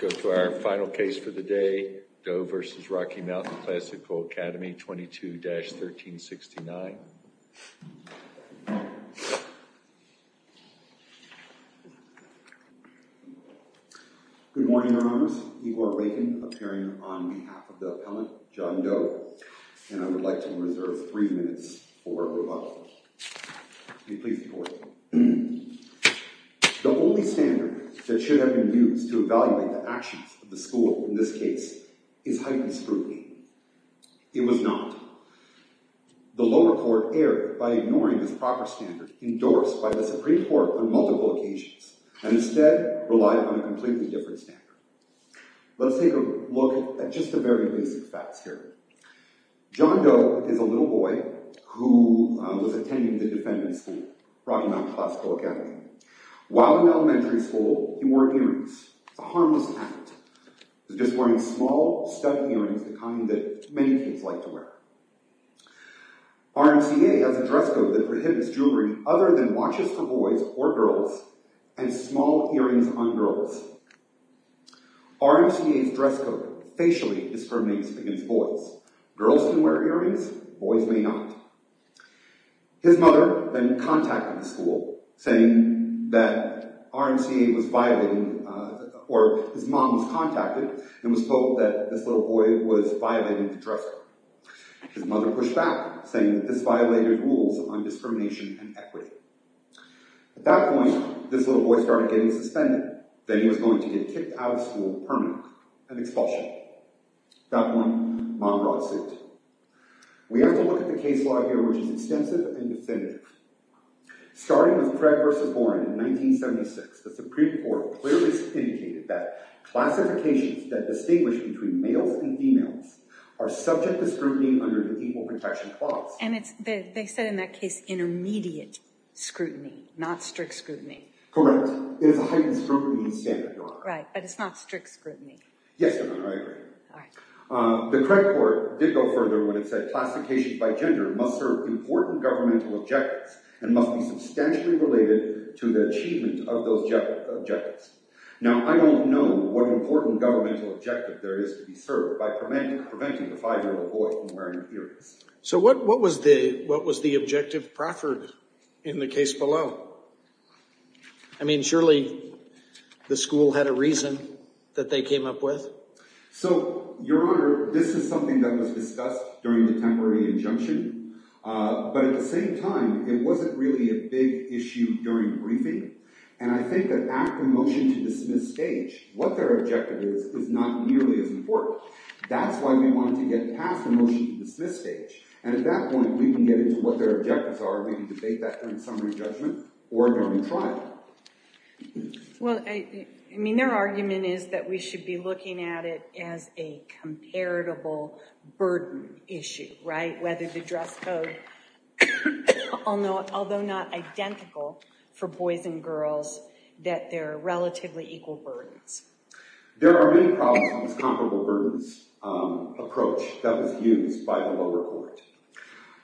Go to our final case for the day, Doe v. Rocky Mountain Classical Academy, 22-1369. Good morning, Your Honors. Igor Reagan, appearing on behalf of the appellant, John Doe. And I would like to reserve three minutes for rebuttal. May it please the Court. The only standard that should have been used to evaluate the actions of the school in this case is heightened scrutiny. It was not. The lower court erred by ignoring this proper standard, endorsed by the Supreme Court on multiple occasions, and instead relied on a completely different standard. Let's take a look at just the very basic facts here. John Doe is a little boy who was attending the defendant's school, Rocky Mountain Classical Academy. While in elementary school, he wore earrings. It's a harmless habit. He was just wearing small, stud earrings, the kind that many kids like to wear. RMCA has a dress code that prohibits jewelry other than watches for boys or girls and small earrings on girls. RMCA's dress code facially discriminates against boys. Girls can wear earrings. Boys may not. His mother then contacted the school, saying that RMCA was violating, or his mom was contacted, and was told that this little boy was violating the dress code. His mother pushed back, saying that this violated rules on discrimination and equity. At that point, this little boy started getting suspended. Then he was going to get kicked out of school permanently, an expulsion. At that point, mom brought a suit. We have to look at the case law here, which is extensive and definitive. Starting with Craig v. Warren in 1976, the Supreme Court clearly indicated that classifications that distinguish between males and females are subject to scrutiny under the Equal Protection Clause. And they said in that case, intermediate scrutiny, not strict scrutiny. Correct. It is a heightened scrutiny standard, Your Honor. Right, but it's not strict scrutiny. Yes, Your Honor, I agree. The Craig Court did go further when it said classifications by gender must serve important governmental objectives and must be substantially related to the achievement of those objectives. Now, I don't know what important governmental objective there is to be served by preventing the five-year-old boy from wearing earrings. So what was the objective proffered in the case below? I mean, surely the school had a reason that they came up with. So, Your Honor, this is something that was discussed during the temporary injunction. But at the same time, it wasn't really a big issue during the briefing. And I think that at the motion-to-dismiss stage, what their objective is is not nearly as important. That's why we wanted to get past the motion-to-dismiss stage. And at that point, we can get into what their objectives are. We can debate that during summary judgment or during trial. Well, I mean, their argument is that we should be looking at it as a comparable burden issue, right? Whether the dress code, although not identical for boys and girls, that there are relatively equal burdens. There are many problems with this comparable burdens approach that was used by the lower court.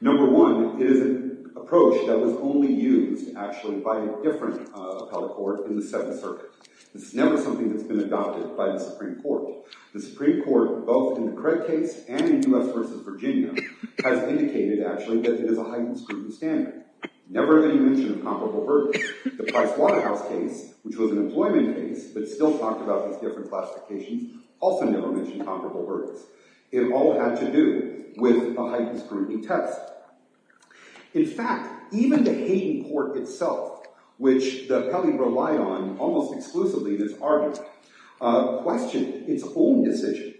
Number one, it is an approach that was only used, actually, by a different appellate court in the Seventh Circuit. This is never something that's been adopted by the Supreme Court. The Supreme Court, both in the Cred case and in U.S. v. Virginia, has indicated, actually, that it is a heightened scrutiny standard. Never have they mentioned a comparable burden. The Price Waterhouse case, which was an employment case but still talked about these different classifications, also never mentioned comparable burdens. It all had to do with a heightened scrutiny test. In fact, even the Hayden court itself, which the appellee relied on almost exclusively in this argument, questioned its own decision.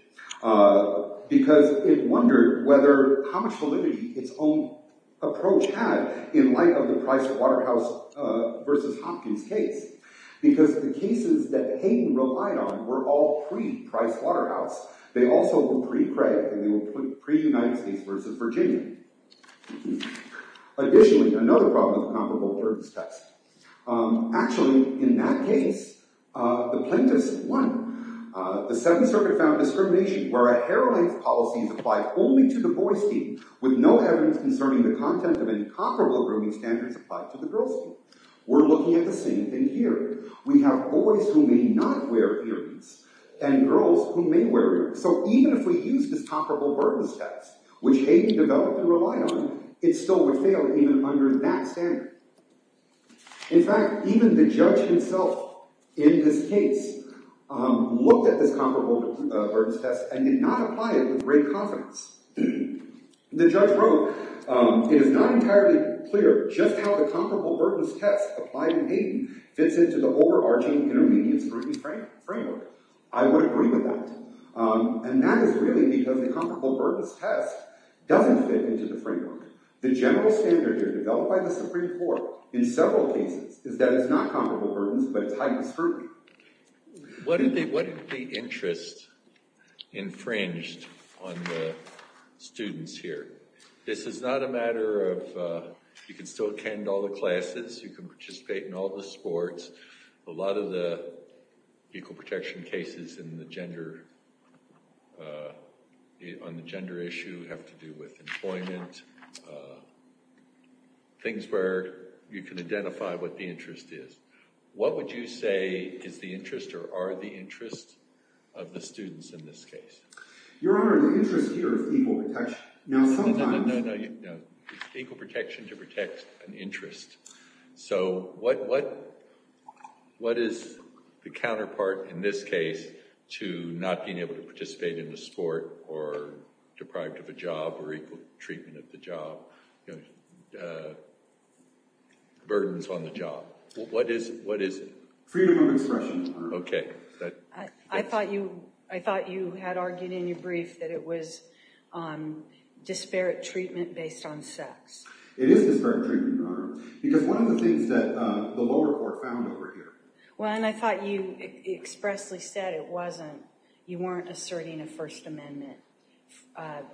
Because it wondered how much validity its own approach had in light of the Price Waterhouse v. Hopkins case. Because the cases that Hayden relied on were all pre-Price Waterhouse. They also were pre-Cred, and they were pre-United States v. Virginia. Additionally, another problem with the comparable burdens test. Actually, in that case, the plaintiffs won. The Seventh Circuit found discrimination where a heroine's policies apply only to the boys' team, with no evidence concerning the content of incomparable grooming standards applied to the girls' team. We're looking at the same thing here. We have boys who may not wear earrings, and girls who may wear earrings. So even if we used this comparable burdens test, which Hayden developed and relied on, it still would fail even under that standard. In fact, even the judge himself in this case looked at this comparable burdens test and did not apply it with great confidence. The judge wrote, It is not entirely clear just how the comparable burdens test applied in Hayden fits into the overarching intermediate scrutiny framework. I would agree with that. And that is really because the comparable burdens test doesn't fit into the framework. The general standard here developed by the Supreme Court in several cases is that it's not comparable burdens, but it's heightened scrutiny. What are the interests infringed on the students here? This is not a matter of you can still attend all the classes. You can participate in all the sports. A lot of the equal protection cases on the gender issue have to do with employment, things where you can identify what the interest is. What would you say is the interest or are the interests of the students in this case? Your Honor, the interest here is equal protection. No, no, no. It's equal protection to protect an interest. So what is the counterpart in this case to not being able to participate in a sport or deprived of a job or equal treatment of the job, burdens on the job? What is it? Freedom of expression, Your Honor. Okay. I thought you had argued in your brief that it was disparate treatment based on sex. It is disparate treatment, Your Honor, because one of the things that the lower court found over here— Well, and I thought you expressly said it wasn't. You weren't asserting a First Amendment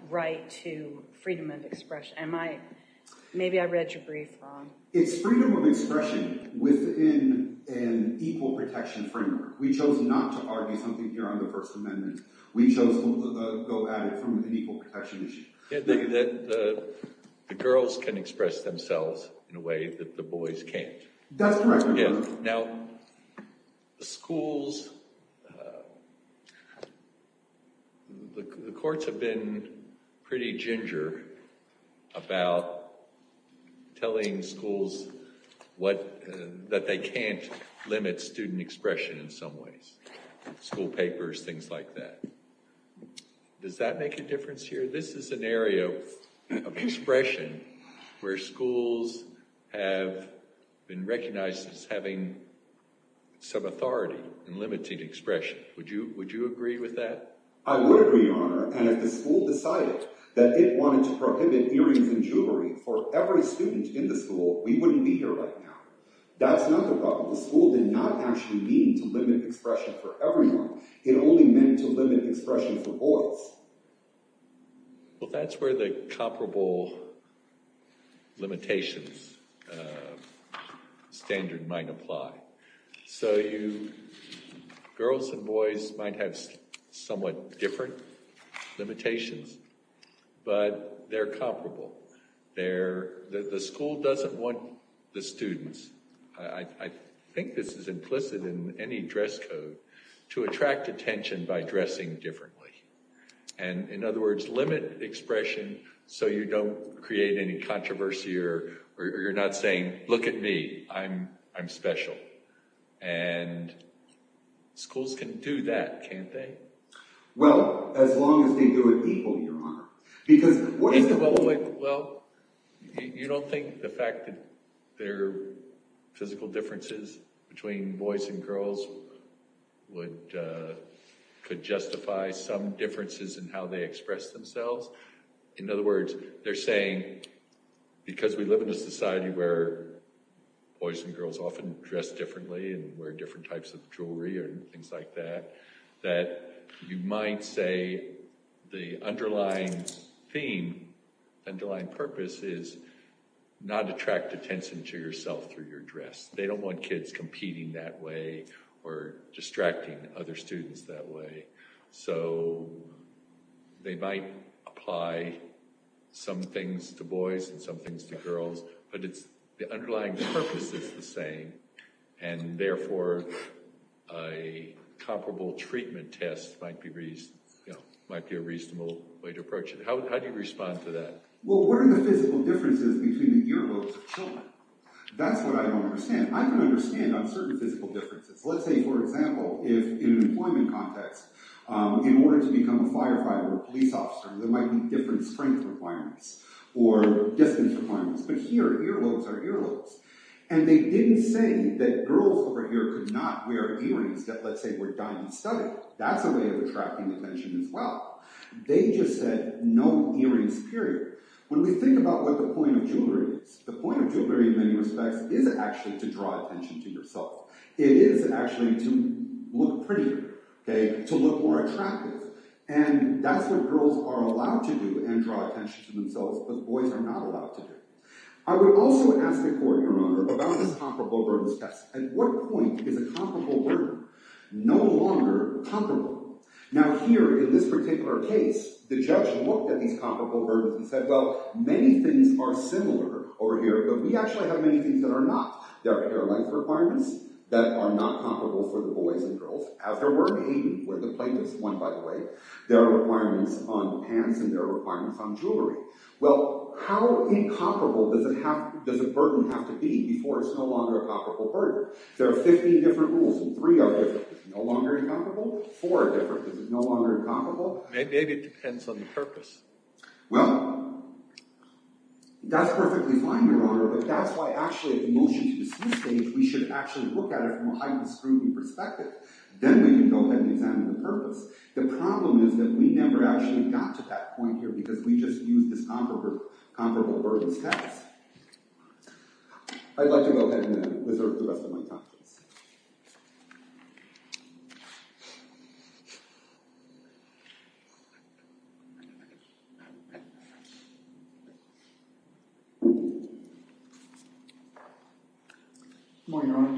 right to freedom of expression. Maybe I read your brief wrong. It's freedom of expression within an equal protection framework. We chose not to argue something here under the First Amendment. We chose to go at it from an equal protection issue. The girls can express themselves in a way that the boys can't. That's correct, Your Honor. Now, schools—the courts have been pretty ginger about telling schools that they can't limit student expression in some ways, school papers, things like that. Does that make a difference here? This is an area of expression where schools have been recognized as having some authority in limiting expression. Would you agree with that? I would agree, Your Honor. And if the school decided that it wanted to prohibit earrings and jewelry for every student in the school, we wouldn't be here right now. That's not the problem. The school did not actually mean to limit expression for everyone. It only meant to limit expression for boys. Well, that's where the comparable limitations standard might apply. So you—girls and boys might have somewhat different limitations, but they're comparable. The school doesn't want the students—I think this is implicit in any dress code— to attract attention by dressing differently. And, in other words, limit expression so you don't create any controversy or you're not saying, look at me, I'm special. And schools can do that, can't they? Well, as long as they do it equally, Your Honor. Well, you don't think the fact that there are physical differences between boys and girls could justify some differences in how they express themselves? In other words, they're saying because we live in a society where boys and girls often dress differently and wear different types of jewelry and things like that, that you might say the underlying theme, underlying purpose is not to attract attention to yourself through your dress. They don't want kids competing that way or distracting other students that way. So they might apply some things to boys and some things to girls, but the underlying purpose is the same. And, therefore, a comparable treatment test might be a reasonable way to approach it. How do you respond to that? Well, what are the physical differences between the earlobes of children? That's what I don't understand. I can understand on certain physical differences. Let's say, for example, in an employment context, in order to become a firefighter or a police officer, there might be different strength requirements or distance requirements. But here, earlobes are earlobes. And they didn't say that girls over here could not wear earrings that, let's say, were diamond studded. That's a way of attracting attention as well. They just said no earrings, period. When we think about what the point of jewelry is, the point of jewelry in many respects is actually to draw attention to yourself. It is actually to look prettier, to look more attractive. And that's what girls are allowed to do and draw attention to themselves, but boys are not allowed to do. I would also ask the court, Your Honor, about this comparable burdens test. At what point is a comparable burden no longer comparable? Now here, in this particular case, the judge looked at these comparable burdens and said, well, many things are similar over here. But we actually have many things that are not. There are hair length requirements that are not comparable for the boys and girls. As there were in Hayden, where the plaintiffs won, by the way, there are requirements on pants and there are requirements on jewelry. Well, how incomparable does a burden have to be before it's no longer a comparable burden? There are 15 different rules and three are different. Is it no longer incomparable? Four are different. Is it no longer incomparable? Maybe it depends on the purpose. Well, that's perfectly fine, Your Honor. But that's why, actually, at the motion to dismiss stage, we should actually look at it from a Hayden-Scruby perspective. Then we can go ahead and examine the purpose. The problem is that we never actually got to that point here because we just used this comparable burdens test. I'd like to go ahead and then reserve the rest of my time, please. Good morning, Your Honor.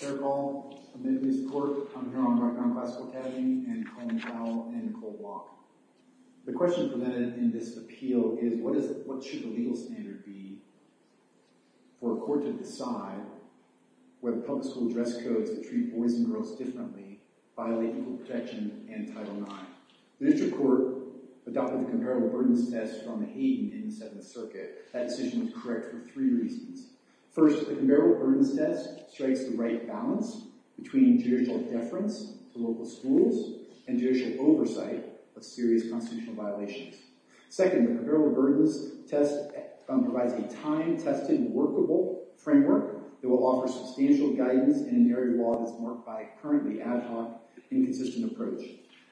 Eric Hall, admitted to this court. I'm here on behalf of the classical academy and Colleen Powell and Nicole Block. The question presented in this appeal is what should the legal standard be for a court to decide whether public school dress codes that treat boys and girls differently violate equal protection and Title IX? The district court adopted the comparable burdens test from the Hayden in the Seventh Circuit. That decision was correct for three reasons. First, the comparable burdens test strikes the right balance between judicial deference to local schools and judicial oversight of serious constitutional violations. Second, the comparable burdens test provides a time-tested, workable framework that will offer substantial guidance in an area of law that's marked by a currently ad hoc, inconsistent approach.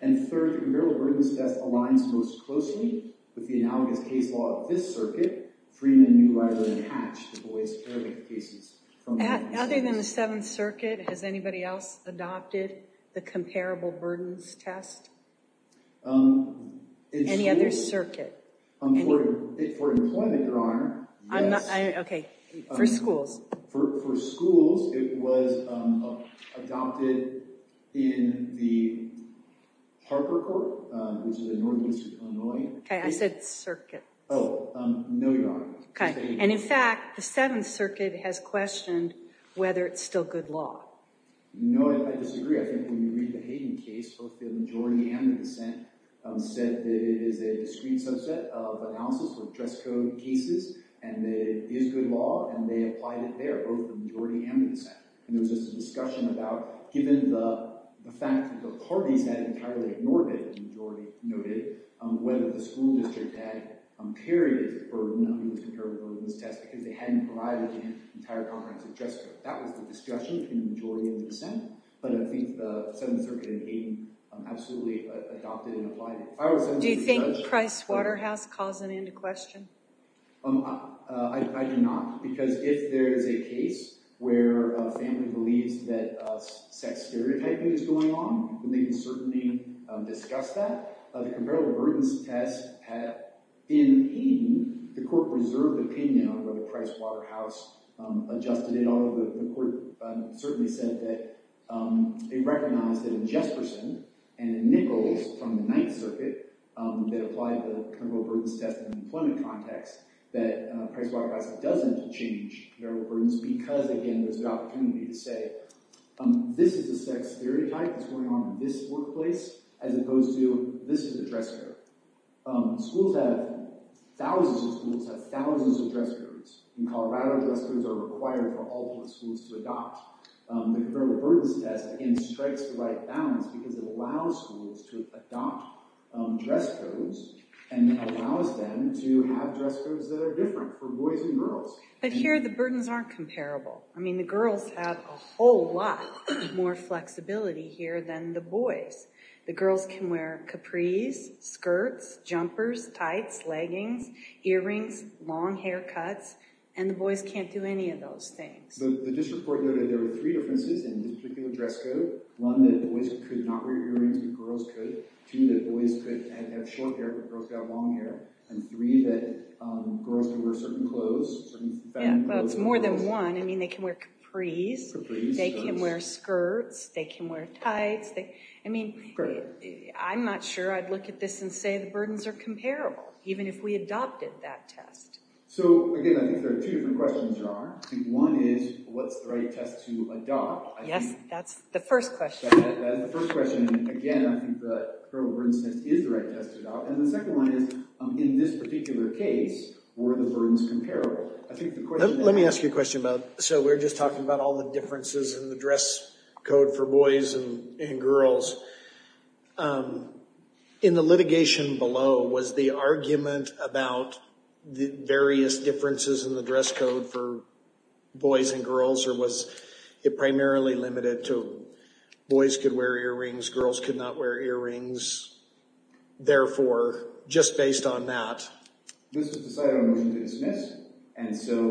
And third, the comparable burdens test aligns most closely with the analogous case law of this circuit, freeing a new right-of-attachment to boys' caregiving cases from the Hayden. Other than the Seventh Circuit, has anybody else adopted the comparable burdens test? Any other circuit? For employment, Your Honor, yes. Okay. For schools. For schools, it was adopted in the Harper Court, which is in Northeastern Illinois. Okay, I said circuit. Oh, no, Your Honor. Okay, and in fact, the Seventh Circuit has questioned whether it's still good law. No, I disagree. I think when you read the Hayden case, both the majority and the dissent said that it is a discrete subset of analysis with dress code cases and that it is good law, and they applied it there, both the majority and the dissent. And there was just a discussion about, given the fact that the parties had entirely ignored it, the majority noted, whether the school district had carried the comparable burdens test because they hadn't provided an entire comprehensive dress code. That was the discussion between the majority and the dissent, but I think the Seventh Circuit and Hayden absolutely adopted and applied it. Do you think Price Waterhouse calls an end to question? I do not, because if there is a case where a family believes that sex stereotyping is going on, then they can certainly discuss that. The comparable burdens test, in Hayden, the court reserved opinion on whether Price Waterhouse adjusted it, although the court certainly said that it recognized that in Jesperson and in Nichols from the Ninth Circuit that applied the comparable burdens test in an employment context that Price Waterhouse doesn't change comparable burdens because, again, there's an opportunity to say, this is a sex stereotype that's going on in this workplace as opposed to this is a dress code. Schools have, thousands of schools have thousands of dress codes. In Colorado, dress codes are required for all schools to adopt. The comparable burdens test, again, strikes the right balance because it allows schools to adopt dress codes and allows them to have dress codes that are different for boys and girls. But here, the burdens aren't comparable. I mean, the girls have a whole lot more flexibility here than the boys. The girls can wear capris, skirts, jumpers, tights, leggings, earrings, long haircuts, and the boys can't do any of those things. The district court noted there were three differences in this particular dress code. One, that boys could not wear earrings and girls could. Two, that boys could have short hair, but girls got long hair. And three, that girls could wear certain clothes. Yeah, well, it's more than one. I mean, they can wear capris, they can wear skirts, they can wear tights. I mean, I'm not sure I'd look at this and say the burdens are comparable, even if we adopted that test. So, again, I think there are two different questions there are. I think one is, what's the right test to adopt? Yes, that's the first question. That is the first question. Again, I think the comparable burdens test is the right test to adopt. And the second one is, in this particular case, were the burdens comparable? Let me ask you a question, Bob. So we're just talking about all the differences in the dress code for boys and girls. In the litigation below, was the argument about the various differences in the dress code for boys and girls, or was it primarily limited to boys could wear earrings, girls could not wear earrings, therefore, just based on that? This was decided on a motion to dismiss. And so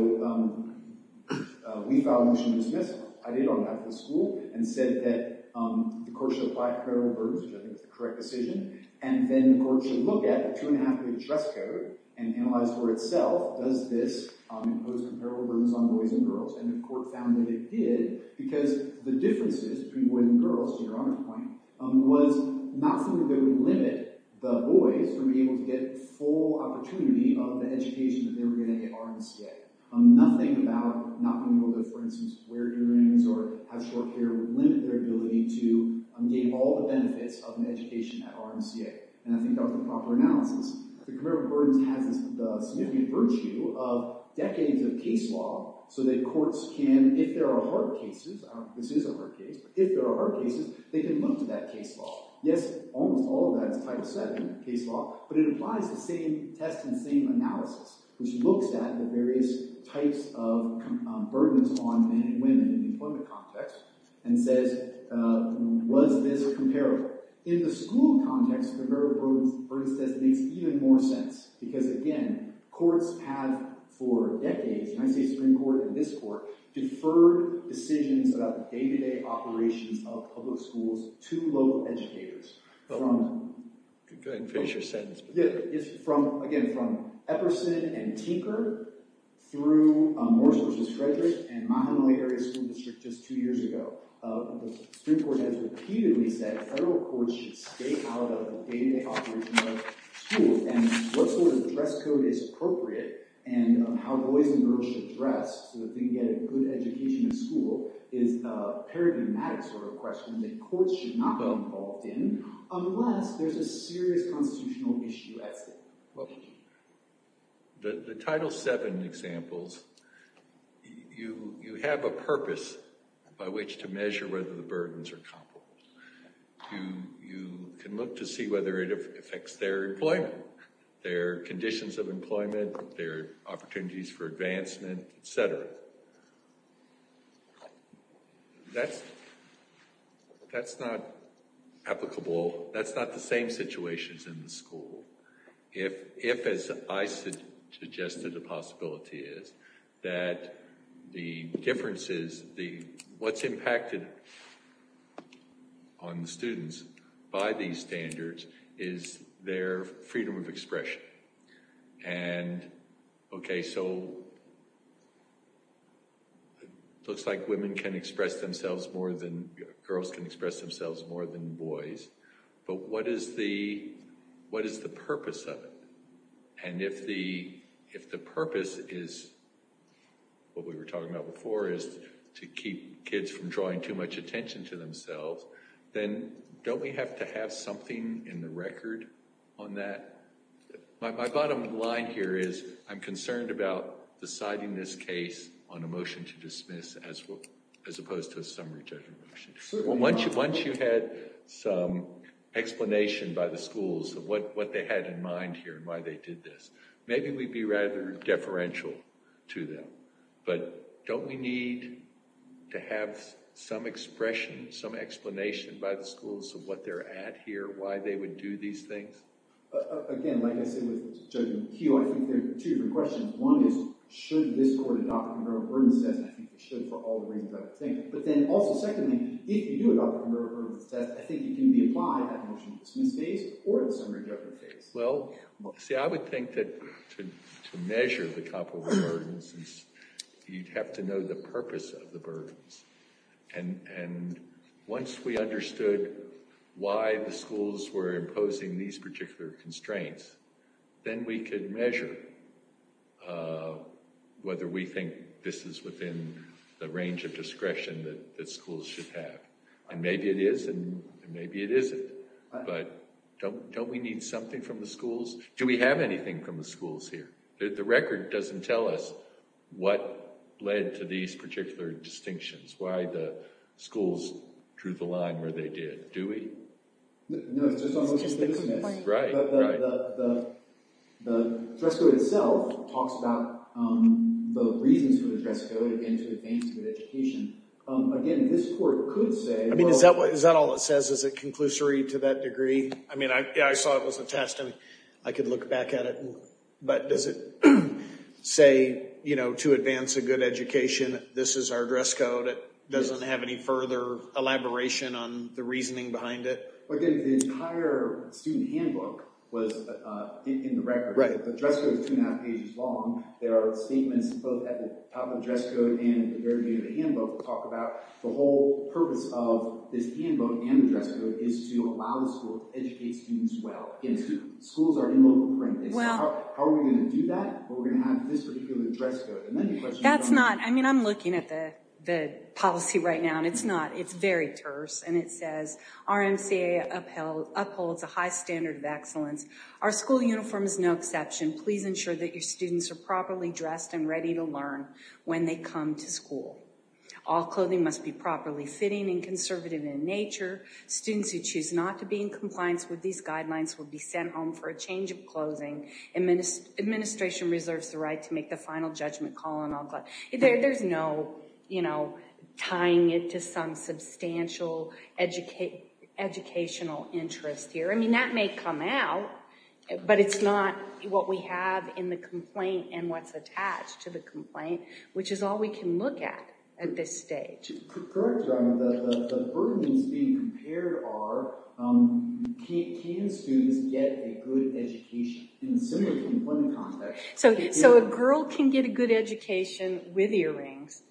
we filed a motion to dismiss. I did on behalf of the school and said that the court should apply comparable burdens, which I think is the correct decision. And then the court should look at the two and a half year dress code and analyze for itself, does this impose comparable burdens on boys and girls? And the court found that it did, because the differences between boys and girls, to your honorable point, was not something that would limit the boys from being able to get full opportunity of the education that they were going to get RMCA. Nothing about not being able to, for instance, wear earrings or have short hair would limit their ability to gain all the benefits of an education at RMCA. And I think that was the proper analysis. Comparable burdens has the significant virtue of decades of case law so that courts can, if there are hard cases, I don't know if this is a hard case, but if there are hard cases, they can look to that case law. Yes, almost all of that is type 7 case law, but it applies the same test and same analysis, which looks at the various types of burdens on men and women in the employment context and says, was this comparable? However, in the school context, the comparable burdens test makes even more sense, because again, courts have for decades, and I say Supreme Court and this court, deferred decisions about the day-to-day operations of public schools to local educators. Go ahead and finish your sentence. Unless there's a serious constitutional issue at stake. That's not the same situations in the school. If, as I suggested, the possibility is that the differences, what's impacted on the students by these standards is their freedom of expression. And, okay, so it looks like women can express themselves more than girls can express themselves more than boys. But what is the, what is the purpose of it? And if the, if the purpose is what we were talking about before is to keep kids from drawing too much attention to themselves, then don't we have to have something in the record on that? My bottom line here is I'm concerned about deciding this case on a motion to dismiss as opposed to a summary judgment motion. Once you had some explanation by the schools of what they had in mind here and why they did this, maybe we'd be rather deferential to them. But don't we need to have some expression, some explanation by the schools of what they're at here, why they would do these things? Again, like I said with Judge McHugh, I think there are two different questions. One is, should this court adopt a conglomerate burden test? I think it should for all the reasons that I think. But then also, secondly, if you do adopt a conglomerate burden test, I think it can be applied at a motion to dismiss case or at a summary judgment case. Well, see, I would think that to measure the conglomerate burdens, you'd have to know the purpose of the burdens. And once we understood why the schools were imposing these particular constraints, then we could measure whether we think this is within the range of discretion that schools should have. And maybe it is, and maybe it isn't. But don't we need something from the schools? Do we have anything from the schools here? The record doesn't tell us what led to these particular distinctions, why the schools drew the line where they did. Do we? No, it's just on the motion to dismiss. But the dress code itself talks about the reasons for the dress code, again, to advance a good education. Again, this court could say— I mean, is that all it says? Is it conclusory to that degree? I mean, I saw it was a test, and I could look back at it. But does it say, you know, to advance a good education, this is our dress code? It doesn't have any further elaboration on the reasoning behind it? Again, the entire student handbook was in the record. The dress code is two and a half pages long. There are statements both at the top of the dress code and at the very end of the handbook that talk about the whole purpose of this handbook and the dress code is to allow the school to educate students well. Schools are in local practice. How are we going to do that? Are we going to have this particular dress code? That's not—I mean, I'm looking at the policy right now, and it's not. It's very terse, and it says, RMCA upholds a high standard of excellence. Our school uniform is no exception. Please ensure that your students are properly dressed and ready to learn when they come to school. All clothing must be properly fitting and conservative in nature. Students who choose not to be in compliance with these guidelines will be sent home for a change of clothing. Administration reserves the right to make the final judgment call on all—there's no, you know, tying it to some substantial educational interest here. I mean, that may come out, but it's not what we have in the complaint and what's attached to the complaint, which is all we can look at at this stage. Correct, Your Honor. The burdens being compared are, can students get a good education in a similar complaint context? So a girl can get a good education with earrings,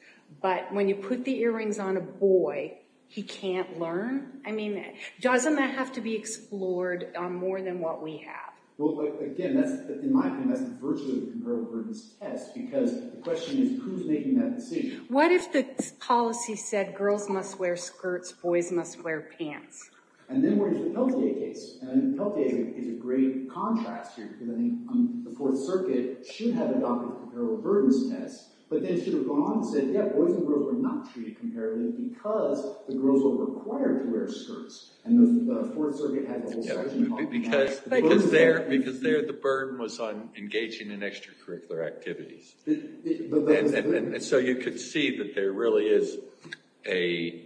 but when you put the earrings on a boy, he can't learn? I mean, doesn't that have to be explored on more than what we have? Well, again, in my opinion, that's virtually a comparable burdens test, because the question is, who's making that decision? What if the policy said girls must wear skirts, boys must wear pants? And then we're into the Pelletier case, and Pelletier is a great contrast here, because I think the Fourth Circuit should have adopted a comparable burdens test, but then should have gone on and said, yeah, boys and girls were not treated comparably because the girls were required to wear skirts. Because there the burden was on engaging in extracurricular activities, and so you could see that there really is a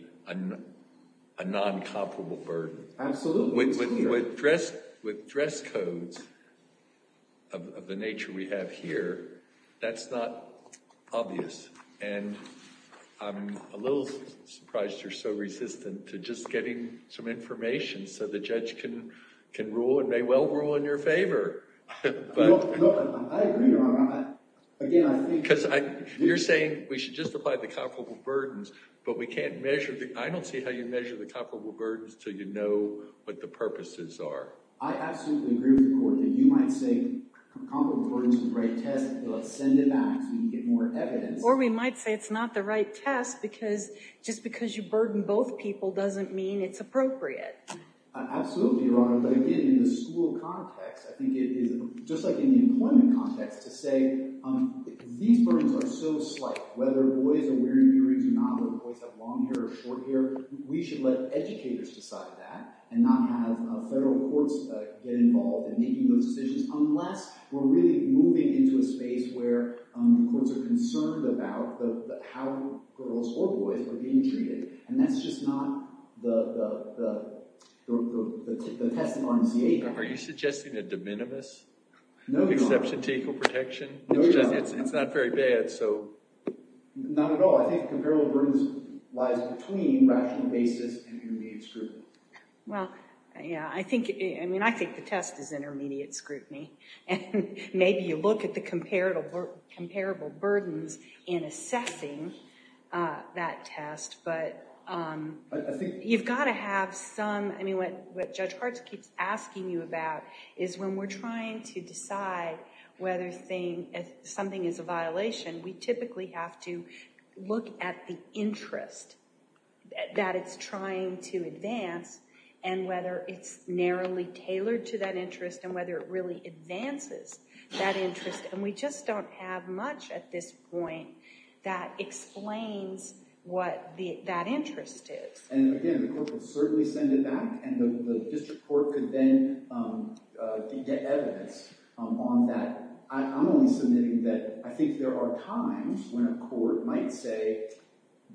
non-comparable burden. Absolutely. With dress codes of the nature we have here, that's not obvious, and I'm a little surprised you're so resistant to just getting some information so the judge can rule and may well rule in your favor. No, I agree, Your Honor. Again, I think— Because you're saying we should just apply the comparable burdens, but we can't measure the—I don't see how you measure the comparable burdens until you know what the purposes are. I absolutely agree with the Court that you might say comparable burdens is the right test, but let's send it back so we can get more evidence. Or we might say it's not the right test, because just because you burden both people doesn't mean it's appropriate. Absolutely, Your Honor, but again, in the school context, I think it is—just like in the employment context, to say these burdens are so slight, whether boys are wearing earrings or not, whether boys have long hair or short hair, we should let educators decide that and not have federal courts get involved in making those decisions unless we're really moving into a space where courts are concerned about how girls or boys are being treated. And that's just not the test of our initiative. Are you suggesting a de minimis exception to equal protection? No, Your Honor. It's not very bad, so— Not at all. I think comparable burdens lies between rational basis and intermediate scrutiny. Well, yeah, I think—I mean, I think the test is intermediate scrutiny, and maybe you look at the comparable burdens in assessing that test, but you've got to have some—I mean, what Judge Hart keeps asking you about is when we're trying to decide whether something is a violation, we typically have to look at the interest that it's trying to advance and whether it's narrowly tailored to that interest and whether it really advances that interest, and we just don't have much at this point that explains what that interest is. And, again, the court would certainly send it back, and the district court could then get evidence on that. I'm only submitting that I think there are times when a court might say,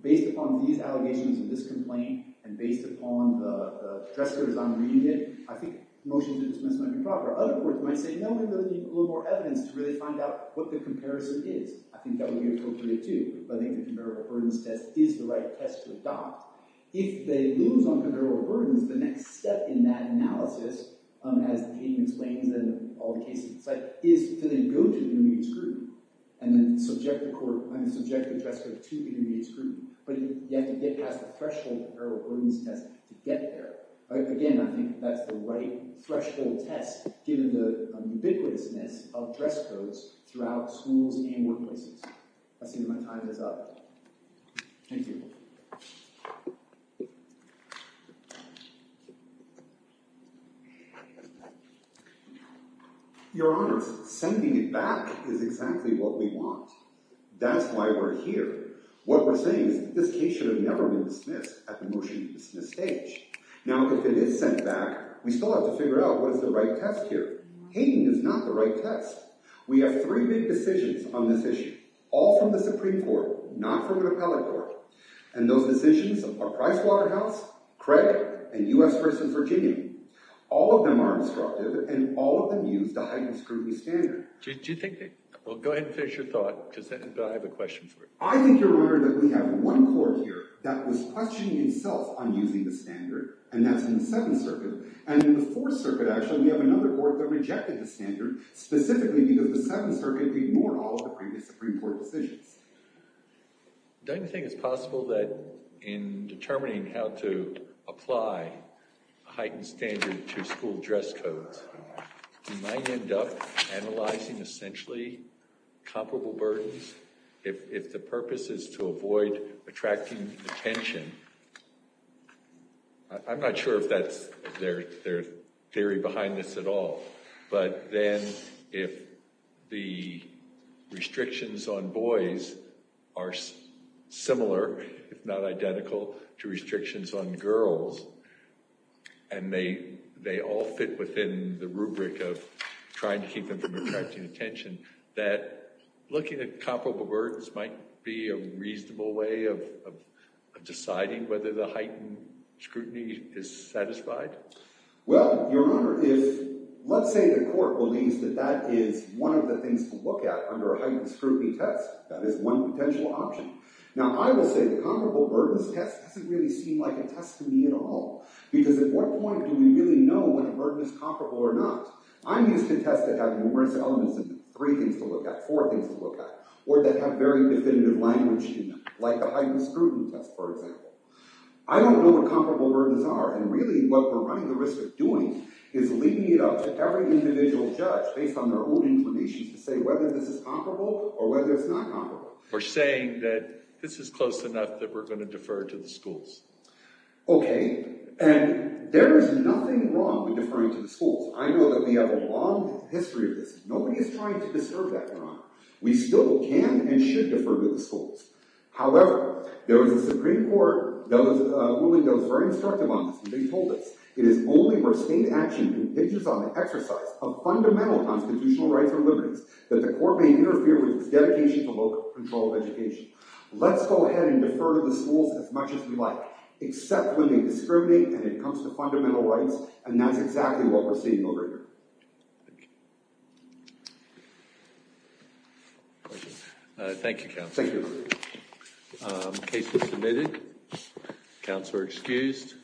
based upon these allegations and this complaint and based upon the dress code as I'm reading it, I think motions of dismissal might be proper. Other courts might say, no, we're going to need a little more evidence to really find out what the comparison is. I think that would be appropriate, too. But I think the comparable burdens test is the right test to adopt. If they lose on comparable burdens, the next step in that analysis, as the case explains and all the cases on the site, is to then go to intermediate scrutiny and then subject the court—I mean, subject the dress code to intermediate scrutiny. But you have to get past the threshold comparable burdens test to get there. Again, I think that's the right threshold test given the ubiquitousness of dress codes throughout schools and workplaces. I see that my time is up. Thank you. Your Honors, sending it back is exactly what we want. That's why we're here. What we're saying is that this case should have never been dismissed at the motion-to-dismiss stage. Now, if it is sent back, we still have to figure out what is the right test here. Hating is not the right test. We have three big decisions on this issue, all from the Supreme Court, not from an appellate court. And those decisions are Pricewaterhouse, Craig, and U.S. v. Virginia. All of them are instructive, and all of them use the heightened scrutiny standard. Do you think—well, go ahead and finish your thought, because I have a question for you. Your Honor, we have one court here that was questioning itself on using the standard, and that's in the Seventh Circuit. And in the Fourth Circuit, actually, we have another court that rejected the standard, specifically because the Seventh Circuit ignored all of the previous Supreme Court decisions. Don't you think it's possible that in determining how to apply a heightened standard to school dress codes, we might end up analyzing, essentially, comparable burdens? If the purpose is to avoid attracting attention—I'm not sure if that's their theory behind this at all— but then if the restrictions on boys are similar, if not identical, to restrictions on girls, and they all fit within the rubric of trying to keep them from attracting attention, that looking at comparable burdens might be a reasonable way of deciding whether the heightened scrutiny is satisfied? Well, Your Honor, let's say the court believes that that is one of the things to look at under a heightened scrutiny test. That is one potential option. Now, I will say the comparable burdens test doesn't really seem like a test to me at all, because at what point do we really know when a burden is comparable or not? I'm used to tests that have numerous elements in them, three things to look at, four things to look at, or that have very definitive language in them, like the heightened scrutiny test, for example. I don't know what comparable burdens are, and really what we're running the risk of doing is leaving it up to every individual judge, based on their own information, to say whether this is comparable or whether it's not comparable. Or saying that this is close enough that we're going to defer to the schools. Okay, and there is nothing wrong with deferring to the schools. I know that we have a long history of this. Nobody is trying to disturb that, Your Honor. We still can and should defer to the schools. However, there was a Supreme Court ruling that was very instructive on this, and they told us, it is only where state action contributes on the exercise of fundamental constitutional rights or liberties that the court may interfere with its dedication to local control of education. Let's go ahead and defer to the schools as much as we like, except when they discriminate when it comes to fundamental rights, and that's exactly what we're seeing over here. Thank you. Thank you, Counsel. Thank you. Case is submitted. Counsel are excused.